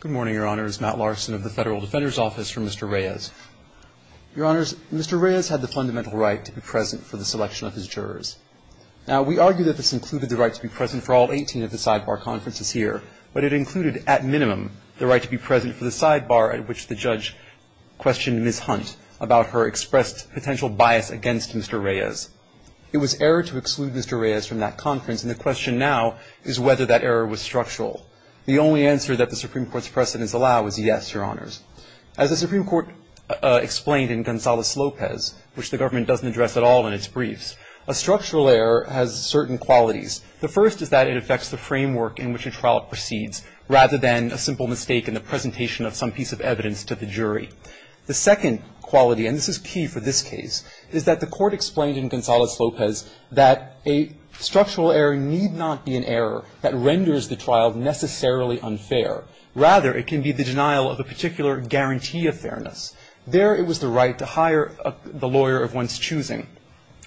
Good morning, Your Honors. Matt Larson of the Federal Defender's Office for Mr. Reyes. Your Honors, Mr. Reyes had the fundamental right to be present for the selection of his jurors. Now, we argue that this included the right to be present for all 18 of the sidebar conferences here, but it included, at minimum, the right to be present for the sidebar at which the judge questioned Ms. Hunt about her expressed potential bias against Mr. Reyes. It was error to exclude Mr. Reyes from that conference, and the question now is whether that error was structural. The only answer that the Supreme Court's precedents allow is yes, Your Honors. As the Supreme Court explained in Gonzales-Lopez, which the government doesn't address at all in its briefs, a structural error has certain qualities. The first is that it affects the framework in which a trial proceeds, rather than a simple mistake in the presentation of some piece of evidence to the jury. The second quality, and this is key for this case, is that the court explained in Gonzales-Lopez that a structural error need not be an error that renders the trial necessarily unfair. Rather, it can be the denial of a particular guarantee of fairness. There, it was the right to hire the lawyer of one's choosing.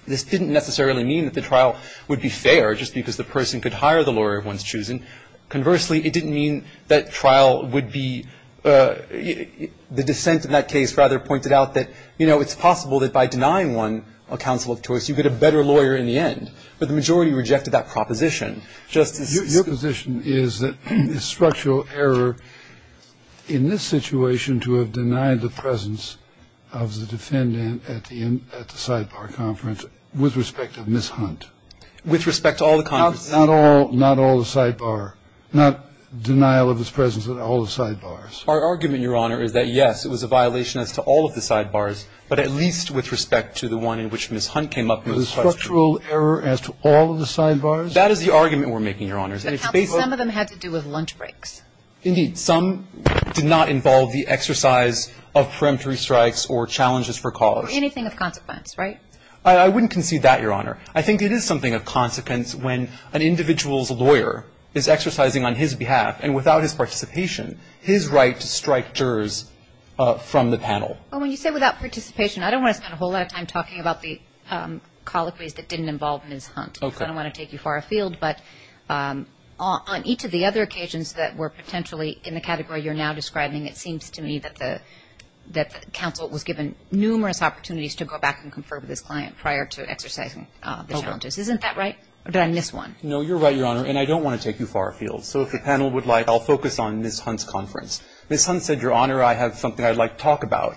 This didn't necessarily mean that the trial would be fair just because the person could hire the lawyer of one's choosing. Conversely, it didn't mean that trial would be the dissent in that case rather pointed out that, you know, it's possible that by denying one a counsel of choice, you get a better lawyer in the end. But the majority rejected that proposition. Justice? Your position is that a structural error in this situation to have denied the presence of the defendant at the sidebar conference, with respect to Ms. Hunt. With respect to all the conferences. Not all the sidebar. Not denial of his presence at all the sidebars. Our argument, Your Honor, is that, yes, it was a violation as to all of the sidebars, but at least with respect to the one in which Ms. Hunt came up with the question. A structural error as to all of the sidebars? That is the argument we're making, Your Honor. Counsel, some of them had to do with lunch breaks. Indeed. Some did not involve the exercise of preemptory strikes or challenges for cause. Anything of consequence, right? I wouldn't concede that, Your Honor. I think it is something of consequence when an individual's lawyer is exercising on his behalf, and without his participation, his right to strike jurors from the panel. Well, when you say without participation, I don't want to spend a whole lot of time talking about the colloquies that didn't involve Ms. Hunt. Okay. I don't want to take you far afield, but on each of the other occasions that were potentially in the category you're now describing, it seems to me that the counsel was given numerous opportunities to go back and confer with his client prior to exercising the challenges. Okay. Isn't that right, or did I miss one? No, you're right, Your Honor, and I don't want to take you far afield. So if the panel would like, I'll focus on Ms. Hunt's conference. Ms. Hunt said, Your Honor, I have something I'd like to talk about.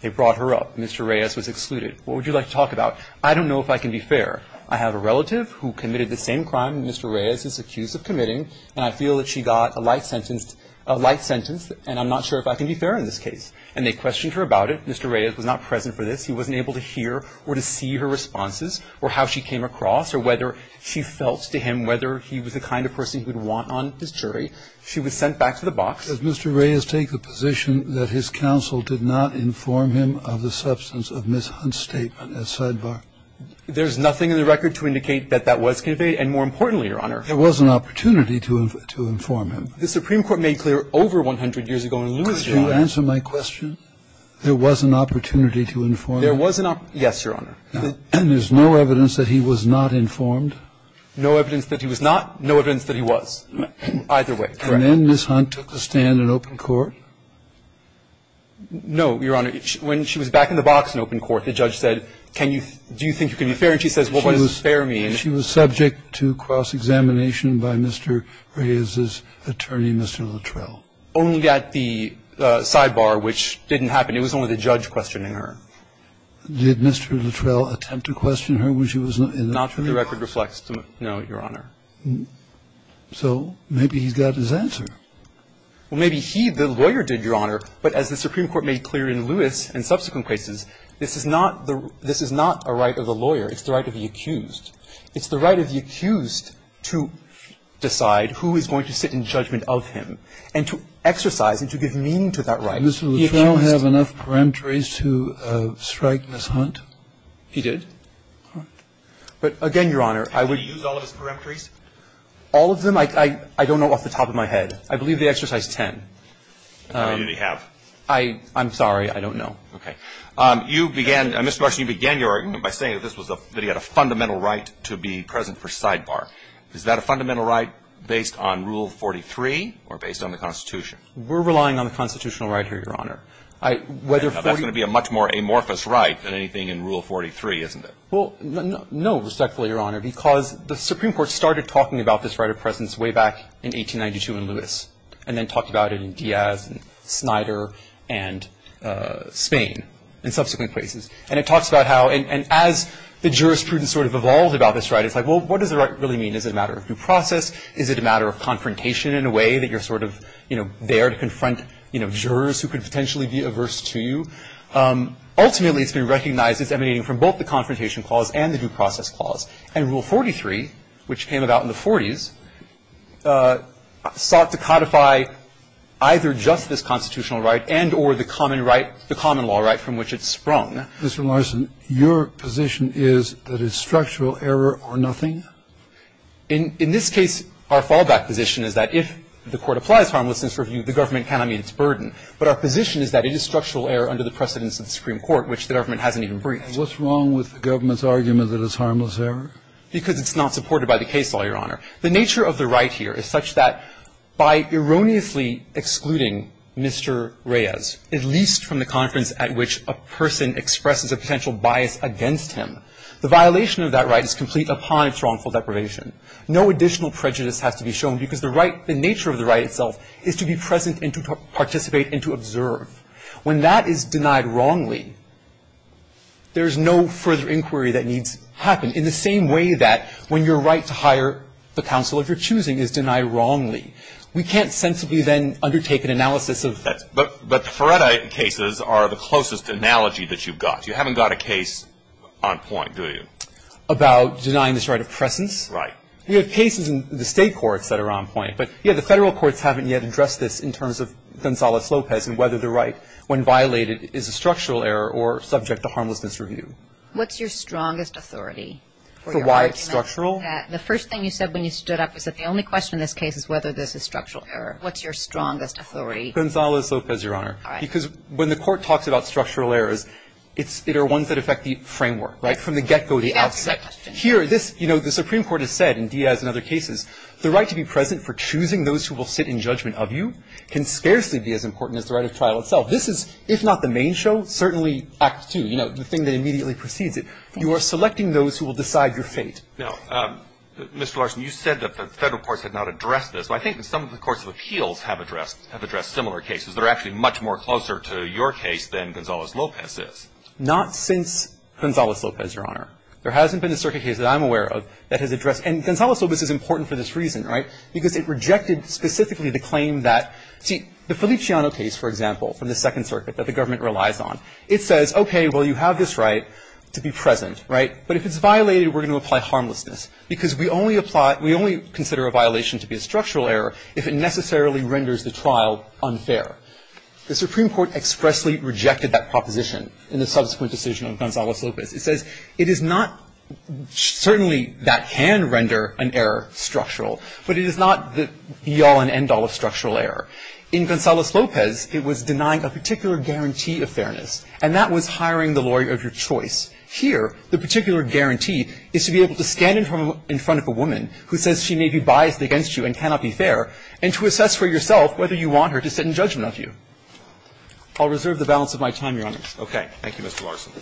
They brought her up. Mr. Reyes was excluded. What would you like to talk about? I don't know if I can be fair. I have a relative who committed the same crime Mr. Reyes is accused of committing, and I feel that she got a light sentence, and I'm not sure if I can be fair in this case. And they questioned her about it. Mr. Reyes was not present for this. He wasn't able to hear or to see her responses or how she came across or whether she felt to him whether he was the kind of person he would want on his jury. She was sent back to the box. Does Mr. Reyes take the position that his counsel did not inform him of the substance of Ms. Hunt's statement as sidebar? There's nothing in the record to indicate that that was conveyed. And more importantly, Your Honor. There was an opportunity to inform him. The Supreme Court made clear over 100 years ago in Louisville. Could you answer my question? There was an opportunity to inform him? There was an opportunity. Yes, Your Honor. And there's no evidence that he was not informed? No evidence that he was not. No evidence that he was. Either way, correct. And then Ms. Hunt took the stand in open court? No, Your Honor. When she was back in the box in open court, the judge said, can you do you think you can be fair? And she says, what does fair mean? She was subject to cross-examination by Mr. Reyes's attorney, Mr. Luttrell. Only at the sidebar, which didn't happen. It was only the judge questioning her. Did Mr. Luttrell attempt to question her when she was in the room? Not from the record reflects. No, Your Honor. So maybe he's got his answer. Well, maybe he, the lawyer, did, Your Honor. But as the Supreme Court made clear in Louis and subsequent cases, this is not a right of the lawyer. It's the right of the accused. It's the right of the accused to decide who is going to sit in judgment of him and to exercise and to give meaning to that right. Did Mr. Luttrell have enough peremptories to strike Ms. Hunt? He did. But again, Your Honor, I would. Did he use all of his peremptories? All of them? I don't know off the top of my head. I believe they exercise 10. How many did he have? I'm sorry. I don't know. Okay. You began, Mr. Marshall, you began your argument by saying that this was a, that he had a fundamental right to be present for sidebar. Is that a fundamental right based on Rule 43 or based on the Constitution? We're relying on the Constitutional right here, Your Honor. That's going to be a much more amorphous right than anything in Rule 43, isn't it? Well, no, respectfully, Your Honor, because the Supreme Court started talking about this right of presence way back in 1892 in Louis and then talked about it in Diaz and Snyder and Spain and subsequent cases. And it talks about how, and as the jurisprudence sort of evolved about this right, it's like, well, what does the right really mean? Is it a matter of due process? Is it a matter of confrontation in a way that you're sort of, you know, there to confront, you know, jurors who could potentially be averse to you? Ultimately, it's been recognized as emanating from both the confrontation clause and the due process clause. And Rule 43, which came about in the 40s, sought to codify either just this constitutional right and or the common right, the common law right from which it sprung. Mr. Larson, your position is that it's structural error or nothing? In this case, our fallback position is that if the Court applies harmlessness review, the government cannot meet its burden. But our position is that it is structural error under the precedence of the Supreme Court, which the government hasn't even briefed. What's wrong with the government's argument that it's harmless error? Because it's not supported by the case law, Your Honor. The nature of the right here is such that by erroneously excluding Mr. Reyes, at least from the conference at which a person expresses a potential bias against him, the violation of that right is complete upon its wrongful deprivation. No additional prejudice has to be shown because the right, the nature of the right itself is to be present and to participate and to observe. When that is denied wrongly, there is no further inquiry that needs to happen, in the same way that when your right to hire the counsel of your choosing is denied wrongly. We can't sensibly then undertake an analysis of that. But the Feretta cases are the closest analogy that you've got. You haven't got a case on point, do you? About denying this right of presence. Right. We have cases in the State courts that are on point. But, yeah, the Federal courts haven't yet addressed this in terms of Gonzales-Lopez and whether the right, when violated, is a structural error or subject to harmlessness review. What's your strongest authority for your argument? For why it's structural? The first thing you said when you stood up was that the only question in this case is whether this is structural error. What's your strongest authority? Gonzales-Lopez, Your Honor. All right. Because when the Court talks about structural errors, it's the ones that affect the framework, right, from the get-go, the outset. Here, this, you know, the Supreme Court has said in Diaz and other cases, the right to be present for choosing those who will sit in judgment of you can scarcely be as important as the right of trial itself. This is, if not the main show, certainly Act II, you know, the thing that immediately precedes it. You are selecting those who will decide your fate. Now, Mr. Larson, you said that the Federal courts had not addressed this. I think that some of the courts of appeals have addressed similar cases that are actually much more closer to your case than Gonzales-Lopez is. Not since Gonzales-Lopez, Your Honor. There hasn't been a circuit case that I'm aware of that has addressed. And Gonzales-Lopez is important for this reason, right, because it rejected specifically the claim that, see, the Feliciano case, for example, from the Second Circuit that the government relies on, it says, okay, well, you have this right to be present, right? But if it's violated, we're going to apply harmlessness, because we only apply we only consider a violation to be a structural error if it necessarily renders the trial unfair. The Supreme Court expressly rejected that proposition in the subsequent decision of Gonzales-Lopez. It says it is not certainly that can render an error structural, but it is not the be-all and end-all of structural error. In Gonzales-Lopez, it was denying a particular guarantee of fairness, and that was hiring the lawyer of your choice. Here, the particular guarantee is to be able to stand in front of a woman who says she may be biased against you and cannot be fair, and to assess for yourself whether you want her to sit in judgment of you. I'll reserve the balance of my time, Your Honor. Roberts. Okay. Thank you, Mr. Larson.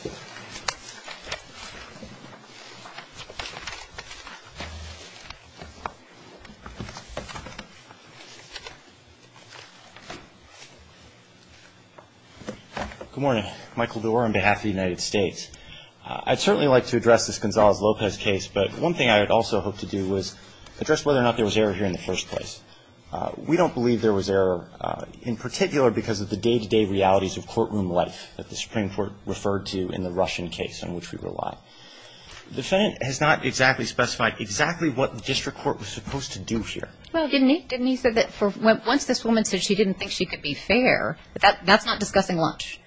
Good morning. Michael Dorr on behalf of the United States. I'd certainly like to address this Gonzales-Lopez case, but one thing I would also hope to do was address whether or not there was error here in the first place. We don't believe there was error in particular because of the day-to-day realities of courtroom life that the Supreme Court referred to in the Russian case on which we rely. The defendant has not exactly specified exactly what the district court was supposed to do here. Well, didn't he? Didn't he say that once this woman said she didn't think she could be fair, that's not discussing lunch,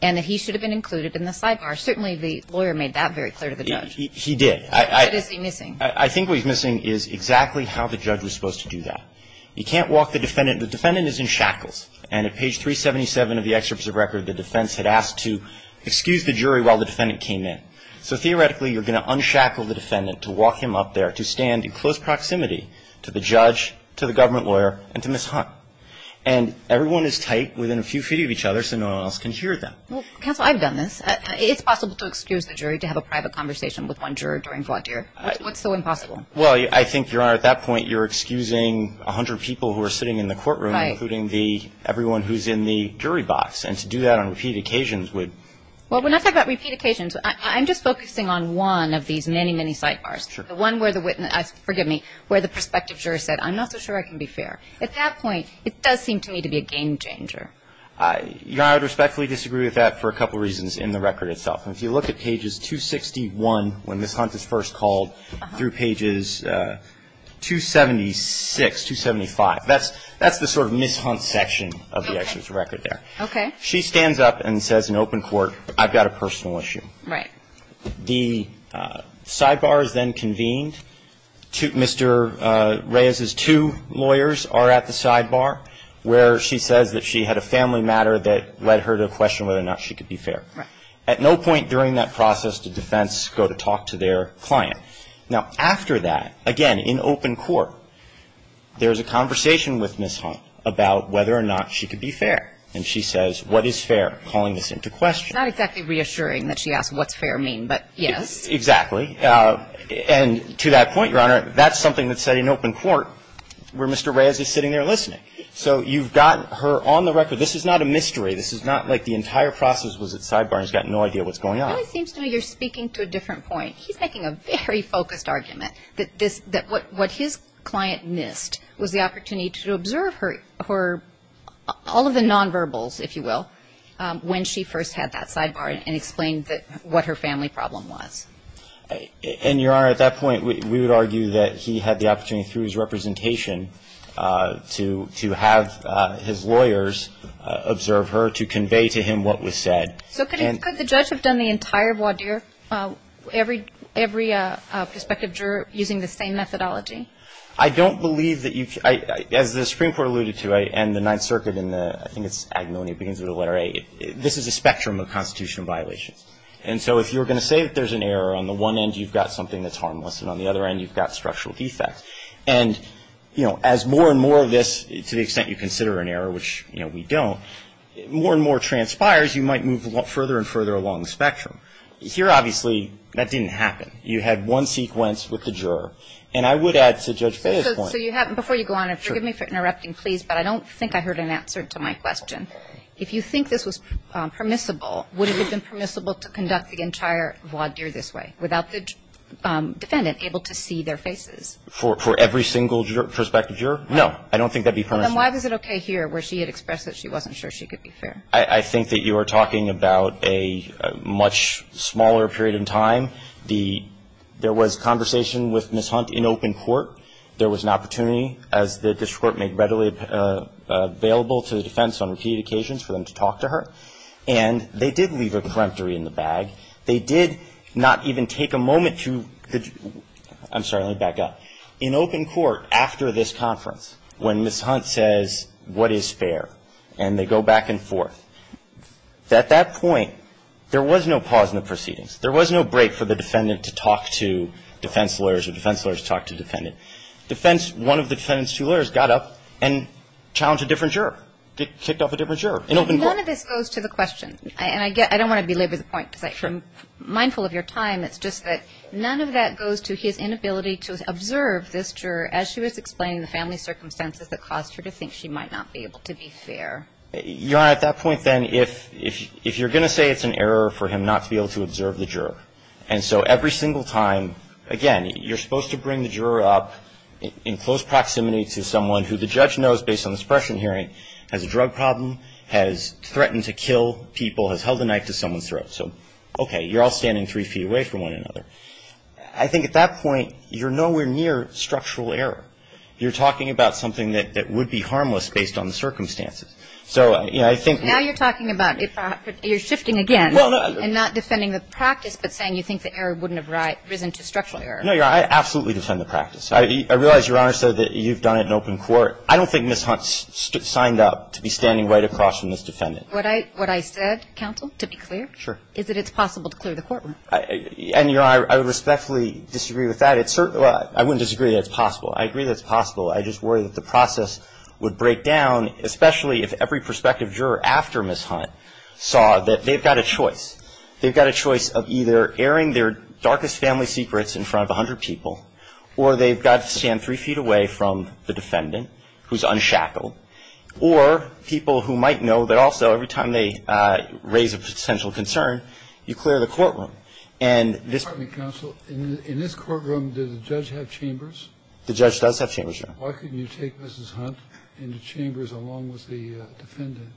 and that he should have been included in the sidebar. Certainly the lawyer made that very clear to the judge. He did. What is he missing? I think what he's missing is exactly how the judge was supposed to do that. You can't walk the defendant. The defendant is in shackles. And at page 377 of the excerpt of the record, the defense had asked to excuse the jury while the defendant came in. So theoretically, you're going to unshackle the defendant to walk him up there, to stand in close proximity to the judge, to the government lawyer, and to Ms. Hunt. And everyone is tight within a few feet of each other so no one else can hear them. Counsel, I've done this. It's possible to excuse the jury to have a private conversation with one juror during Well, I think, Your Honor, at that point you're excusing 100 people who are sitting in the courtroom, including everyone who is in the jury box. And to do that on repeat occasions would Well, we're not talking about repeat occasions. I'm just focusing on one of these many, many sidebars. Sure. The one where the witness, forgive me, where the prospective juror said, I'm not so sure I can be fair. At that point, it does seem to me to be a game changer. Your Honor, I would respectfully disagree with that for a couple of reasons in the record itself. And if you look at pages 261, when Ms. Hunt is first called, through pages 276, 275, that's the sort of Ms. Hunt section of the executive record there. Okay. She stands up and says in open court, I've got a personal issue. Right. The sidebar is then convened. Mr. Reyes's two lawyers are at the sidebar where she says that she had a family matter that led her to question whether or not she could be fair. Right. At no point during that process did defense go to talk to their client. Now, after that, again, in open court, there's a conversation with Ms. Hunt about whether or not she could be fair. And she says, what is fair, calling this into question. It's not exactly reassuring that she asks what's fair mean, but yes. Exactly. And to that point, Your Honor, that's something that's said in open court where Mr. Reyes is sitting there listening. So you've got her on the record. This is not a mystery. This is not like the entire process was at sidebar and he's got no idea what's going on. It really seems to me you're speaking to a different point. He's making a very focused argument that this, that what his client missed was the opportunity to observe her, all of the nonverbals, if you will, when she first had that sidebar and explained what her family problem was. And, Your Honor, at that point, we would argue that he had the opportunity through his representation to have his lawyers observe her, to convey to him what was said. So could the judge have done the entire voir dire, every prospective juror, using the same methodology? I don't believe that you've, as the Supreme Court alluded to, and the Ninth Circuit in the, I think it's Agnone, it begins with the letter A. This is a spectrum of constitutional violations. And so if you're going to say that there's an error, on the one end you've got something that's harmless and on the other end you've got structural defects. And, you know, as more and more of this, to the extent you consider an error, which, you know, we don't, more and more transpires, you might move further and further along the spectrum. Here, obviously, that didn't happen. You had one sequence with the juror. And I would add to Judge Fahy's point. So you have, before you go on, and forgive me for interrupting, please, but I don't think I heard an answer to my question. If you think this was permissible, would it have been permissible to conduct the entire voir dire this way, without the defendant able to see their faces? For every single prospective juror? No. I don't think that would be permissible. Then why was it okay here, where she had expressed that she wasn't sure she could be fair? I think that you are talking about a much smaller period in time. The – there was conversation with Ms. Hunt in open court. There was an opportunity, as the district court made readily available to the defense on repeated occasions for them to talk to her. And they did leave a correctory in the bag. They did not even take a moment to – I'm sorry. Let me back up. In open court, after this conference, when Ms. Hunt says, what is fair, and they go back and forth, at that point, there was no pause in the proceedings. There was no break for the defendant to talk to defense lawyers or defense lawyers to talk to defendant. Defense – one of the defendant's two lawyers got up and challenged a different juror, kicked off a different juror in open court. None of this goes to the question. And I get – I don't want to belabor the point, because I'm mindful of your time. It's just that none of that goes to his inability to observe this juror as she was explaining the family circumstances that caused her to think she might not be able to be fair. Your Honor, at that point, then, if you're going to say it's an error for him not to be able to observe the juror, and so every single time – again, you're supposed to bring the juror up in close proximity to someone who the judge knows, based on this pressure hearing, has a drug problem, has threatened to kill people, has held a knife to someone's throat. So, okay, you're all standing three feet away from one another. I think at that point, you're nowhere near structural error. You're talking about something that would be harmless based on the circumstances. So, you know, I think – Now you're talking about – you're shifting again and not defending the practice, but saying you think the error wouldn't have risen to structural error. No, Your Honor. I absolutely defend the practice. I realize Your Honor said that you've done it in open court. I don't think Ms. Hunt signed up to be standing right across from this defendant. Would I – would I said, counsel, to be clear? Is it possible to clear the courtroom? And, Your Honor, I respectfully disagree with that. It's – I wouldn't disagree that it's possible. I agree that it's possible. I just worry that the process would break down, especially if every prospective juror after Ms. Hunt saw that they've got a choice. They've got a choice of either airing their darkest family secrets in front of 100 people, or they've got to stand three feet away from the defendant who's unshackled, or people who might know that also every time they raise a potential concern, you clear the courtroom. And this – Pardon me, counsel. In this courtroom, does the judge have chambers? The judge does have chambers, Your Honor. Why couldn't you take Ms. Hunt into chambers along with the defendant?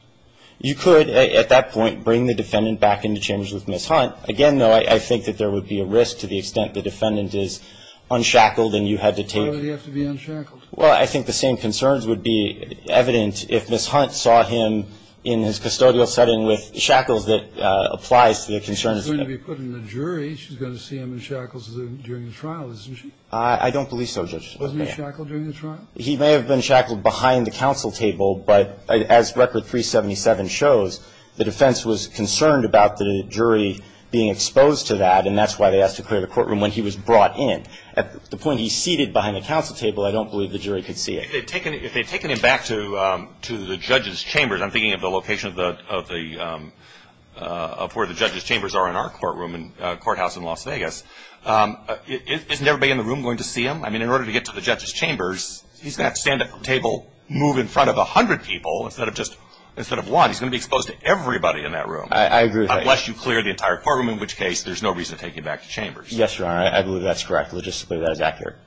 You could at that point bring the defendant back into chambers with Ms. Hunt. Again, though, I think that there would be a risk to the extent the defendant is unshackled and you had to take – Why would he have to be unshackled? Well, I think the same concerns would be evident if Ms. Hunt saw him in his custodial setting with shackles that applies to the concerns. She's going to be put in the jury. She's going to see him in shackles during the trial, isn't she? I don't believe so, Judge. Wasn't he shackled during the trial? He may have been shackled behind the counsel table, but as Record 377 shows, the defense was concerned about the jury being exposed to that, and that's why they asked to clear the courtroom when he was brought in. At the point he's seated behind the counsel table, I don't believe the jury could see it. If they'd taken him back to the judge's chambers, I'm thinking of the location of the – of where the judge's chambers are in our courtroom in – courthouse in Las Vegas. Isn't everybody in the room going to see him? I mean, in order to get to the judge's chambers, he's going to have to stand at the table, move in front of 100 people instead of just – instead of one. He's going to be exposed to everybody in that room. I agree with that. Unless you clear the entire courtroom, in which case there's no reason to take him back to chambers. Yes, Your Honor. I believe that's correct. Logistically, that is accurate.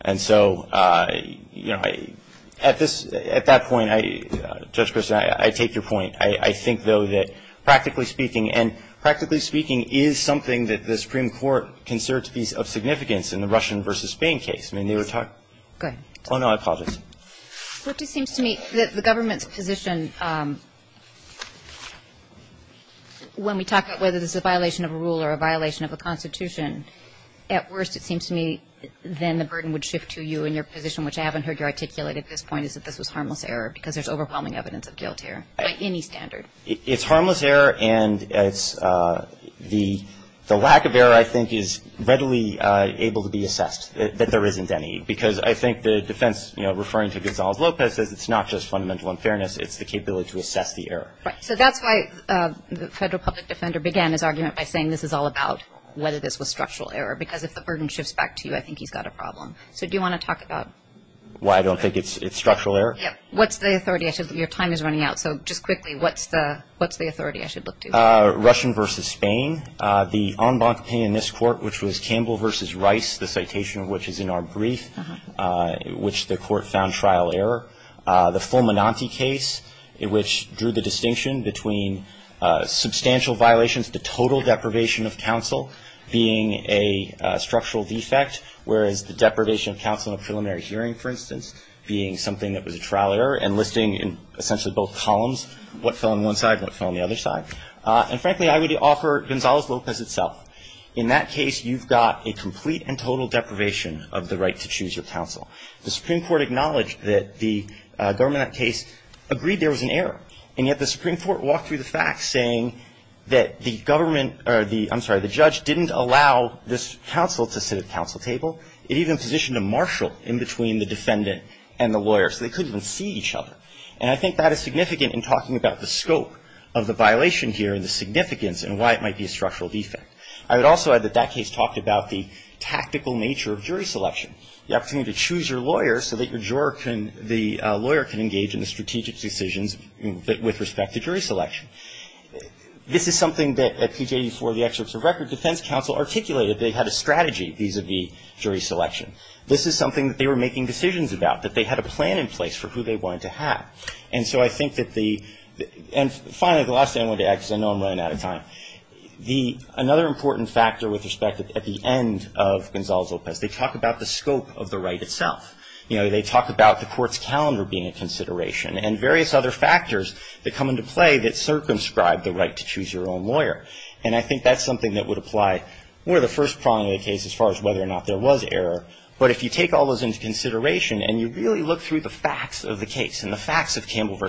And so, you know, at this – at that point, I – Judge Christin, I take your point. I think, though, that practically speaking – and practically speaking is something that the Supreme Court considers to be of significance in the Russian v. Spain case. I mean, they were talking – Go ahead. Oh, no. I apologize. It just seems to me that the government's position when we talk about whether this is a violation of a rule or a violation of a constitution, at worst it seems to me then the burden would shift to you and your position, which I haven't heard you articulate at this point, is that this was harmless error because there's overwhelming evidence of guilt here by any standard. It's harmless error, and it's – the lack of error, I think, is readily able to be assessed, that there isn't any, because I think the defense, you know, referring to Gonzalez-Lopez says it's not just fundamental unfairness. It's the capability to assess the error. Right. So that's why the federal public defender began his argument by saying this is all about whether this was structural error because if the burden shifts back to you, I think he's got a problem. So do you want to talk about – Why I don't think it's structural error? Yeah. What's the authority? Your time is running out, so just quickly, what's the authority I should look to? Russian v. Spain. The en banc opinion in this court, which was Campbell v. Rice, the citation of which is in our brief, which the court found trial error. The Fulminante case, which drew the distinction between substantial violations, the total deprivation of counsel being a structural defect, whereas the deprivation of counsel in a preliminary hearing, for instance, being something that was a trial error and listing in essentially both columns what fell on one side and what fell on the other side. And frankly, I would offer Gonzalez-Lopez itself. In that case, you've got a complete and total deprivation of the right to choose your counsel. The Supreme Court acknowledged that the government in that case agreed there was an error, and yet the Supreme Court walked through the facts saying that the government – I'm sorry, the judge didn't allow this counsel to sit at the counsel table. It even positioned a marshal in between the defendant and the lawyer, so they couldn't even see each other. And I think that is significant in talking about the scope of the violation here and the significance and why it might be a structural defect. I would also add that that case talked about the tactical nature of jury selection, the opportunity to choose your lawyer so that your juror can – the lawyer can engage in the strategic decisions with respect to jury selection. This is something that at PGA for the excerpts of record, defense counsel articulated they had a strategy vis-à-vis jury selection. This is something that they were making decisions about, that they had a plan in place for who they wanted to have. And so I think that the – and finally, the last thing I want to add because I know I'm running out of time. The – another important factor with respect at the end of Gonzalez-Lopez, they talk about the scope of the right itself. You know, they talk about the court's calendar being a consideration and various other factors that come into play that circumscribe the right to choose your own lawyer. And I think that's something that would apply more to the first prong of the case as far as whether or not there was error. But if you take all those into consideration and you really look through the facts of the case and the facts of Campbell v.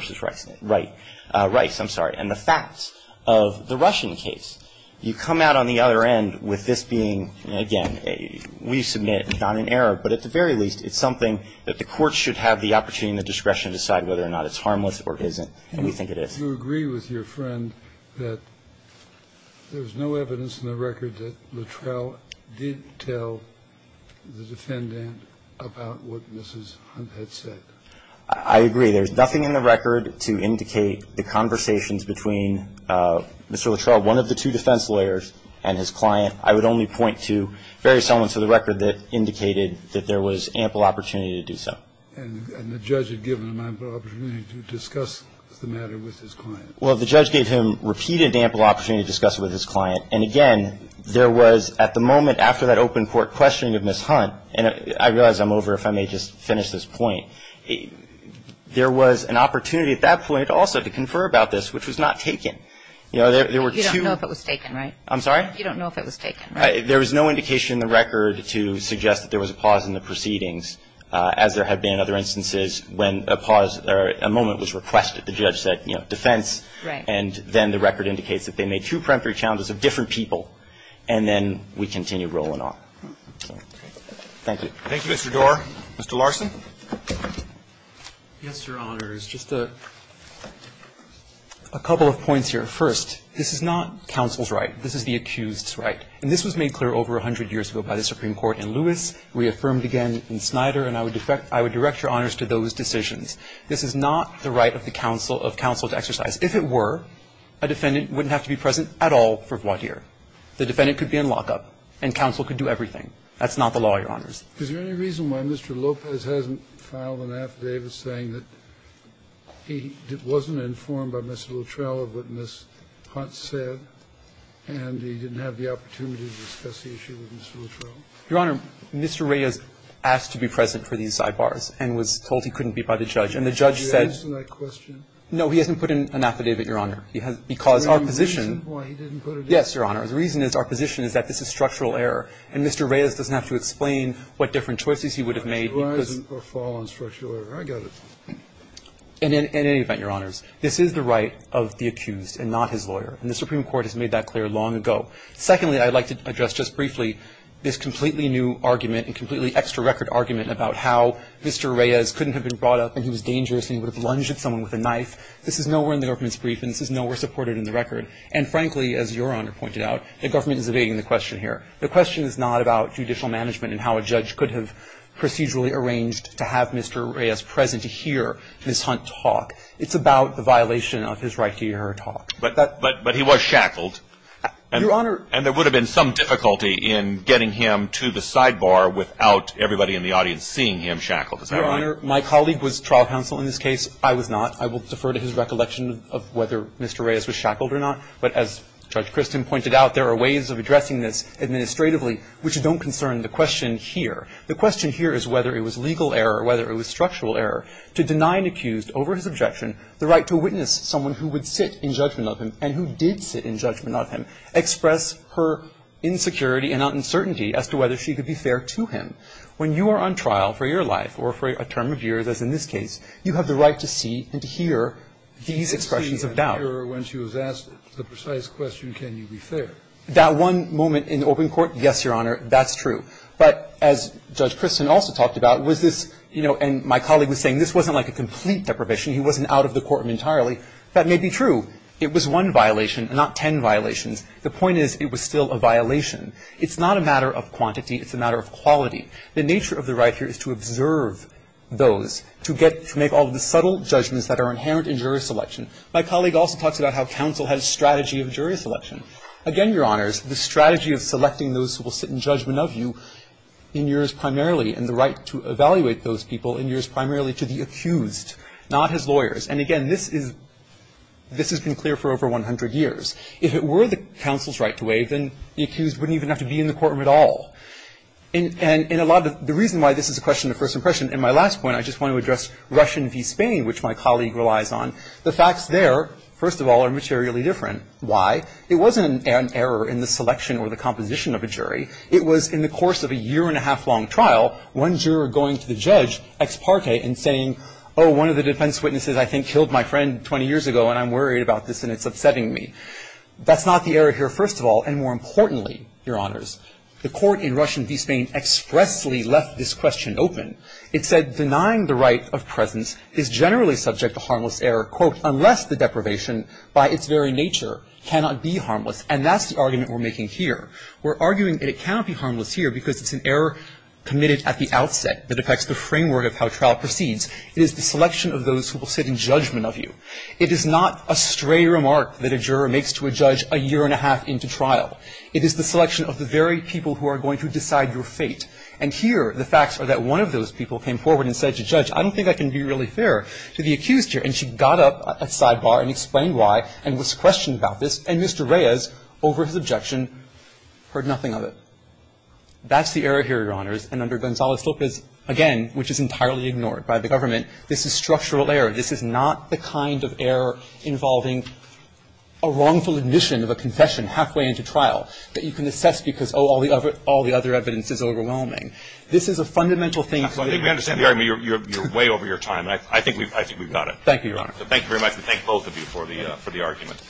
Rice, I'm sorry, and the facts of the Russian case, you come out on the other end with this being, again, we submit not an error, but at the very least, it's something that the courts should have the opportunity and the discretion to decide whether or not it's harmless or isn't, and we think it is. Kennedy, do you agree with your friend that there was no evidence in the record that Luttrell did tell the defendant about what Mrs. Hunt had said? I agree. There's nothing in the record to indicate the conversations between Mr. Luttrell, one of the two defense lawyers, and his client. I would only point to various elements of the record that indicated that there was ample opportunity to do so. And the judge had given him ample opportunity to discuss the matter with his client. Well, the judge gave him repeated ample opportunity to discuss it with his client. And, again, there was, at the moment, after that open court questioning of Mrs. Hunt and I realize I'm over, if I may just finish this point. There was an opportunity at that point also to confer about this, which was not taken. You know, there were two. You don't know if it was taken, right? I'm sorry? You don't know if it was taken, right? There was no indication in the record to suggest that there was a pause in the proceedings, as there had been in other instances when a pause or a moment was requested. The judge said, you know, defense. Right. And then the record indicates that they made two peremptory challenges of different people, and then we continued rolling on. Thank you. Thank you, Mr. Doar. Mr. Larson. Yes, Your Honors. Just a couple of points here. First, this is not counsel's right. This is the accused's right. And this was made clear over 100 years ago by the Supreme Court in Lewis, reaffirmed again in Snyder, and I would direct your honors to those decisions. This is not the right of the counsel to exercise. If it were, a defendant wouldn't have to be present at all for voir dire. The defendant could be in lockup, and counsel could do everything. That's not the law, Your Honors. Is there any reason why Mr. Lopez hasn't filed an affidavit saying that he wasn't informed by Mr. Luttrell of what Ms. Hunt said, and he didn't have the opportunity to discuss the issue with Mr. Luttrell? Your Honor, Mr. Reyes asked to be present for these sidebars and was told he couldn't be by the judge, and the judge said no, he hasn't put in an affidavit, Your Honor. Because our position. Yes, Your Honor. The reason is our position is that this is structural error, and Mr. Reyes doesn't have to explain what different choices he would have made because. I got it. In any event, Your Honors, this is the right of the accused and not his lawyer, and the Supreme Court has made that clear long ago. Secondly, I'd like to address just briefly this completely new argument and completely extra record argument about how Mr. Reyes couldn't have been brought up and he was dangerous and he would have lunged at someone with a knife. This is nowhere in the government's brief, and this is nowhere supported in the record. And frankly, as Your Honor pointed out, the government is evading the question here. The question is not about judicial management and how a judge could have procedurally arranged to have Mr. Reyes present to hear Ms. Hunt talk. It's about the violation of his right to hear her talk. But he was shackled. Your Honor. And there would have been some difficulty in getting him to the sidebar without everybody in the audience seeing him shackled. Your Honor, my colleague was trial counsel in this case. I was not. I will defer to his recollection of whether Mr. Reyes was shackled or not. But as Judge Christin pointed out, there are ways of addressing this administratively which don't concern the question here. The question here is whether it was legal error, whether it was structural error to deny an accused over his objection the right to witness someone who would sit in judgment of him and who did sit in judgment of him, express her insecurity and uncertainty as to whether she could be fair to him. When you are on trial for your life or for a term of years, as in this case, you have the right to see and to hear these expressions of doubt. When she was asked the precise question, can you be fair? That one moment in open court, yes, Your Honor, that's true. But as Judge Christin also talked about, was this, you know, and my colleague was saying this wasn't like a complete deprivation. He wasn't out of the courtroom entirely. That may be true. It was one violation, not ten violations. The point is it was still a violation. It's not a matter of quantity. It's a matter of quality. The nature of the right here is to observe those, to get to make all of the subtle judgments that are inherent in jury selection. My colleague also talks about how counsel has a strategy of jury selection. Again, Your Honors, the strategy of selecting those who will sit in judgment of you in yours primarily and the right to evaluate those people in yours primarily to the accused, not his lawyers. And, again, this is – this has been clear for over 100 years. If it were the counsel's right to waive, then the accused wouldn't even have to be in the courtroom at all. And a lot of – the reason why this is a question of first impression in my last point, I just want to address Russian v. Spain, which my colleague relies on. The facts there, first of all, are materially different. Why? It wasn't an error in the selection or the composition of a jury. It was in the course of a year-and-a-half-long trial, one juror going to the judge ex parte and saying, oh, one of the defense witnesses I think killed my friend 20 years ago, and I'm worried about this, and it's upsetting me. That's not the error here, first of all. And more importantly, Your Honors, the court in Russian v. Spain expressly left this question open. It said denying the right of presence is generally subject to harmless error, quote, unless the deprivation by its very nature cannot be harmless. And that's the argument we're making here. We're arguing that it cannot be harmless here because it's an error committed at the outset that affects the framework of how trial proceeds. It is the selection of those who will sit in judgment of you. It is not a stray remark that a juror makes to a judge a year-and-a-half into trial. It is the selection of the very people who are going to decide your fate. And here the facts are that one of those people came forward and said to Judge, I don't think I can be really fair to the accused here. And she got up at sidebar and explained why and was questioned about this. And Mr. Reyes, over his objection, heard nothing of it. That's the error here, Your Honors. And under Gonzalez-Lopez, again, which is entirely ignored by the government, this is structural error. This is not the kind of error involving a wrongful admission of a confession halfway into trial that you can assess because, oh, all the other evidence is overwhelming. This is a fundamental thing. I think we understand the argument. You're way over your time. I think we've got it. Thank you, Your Honor. Thank you very much. And thank both of you for the argument.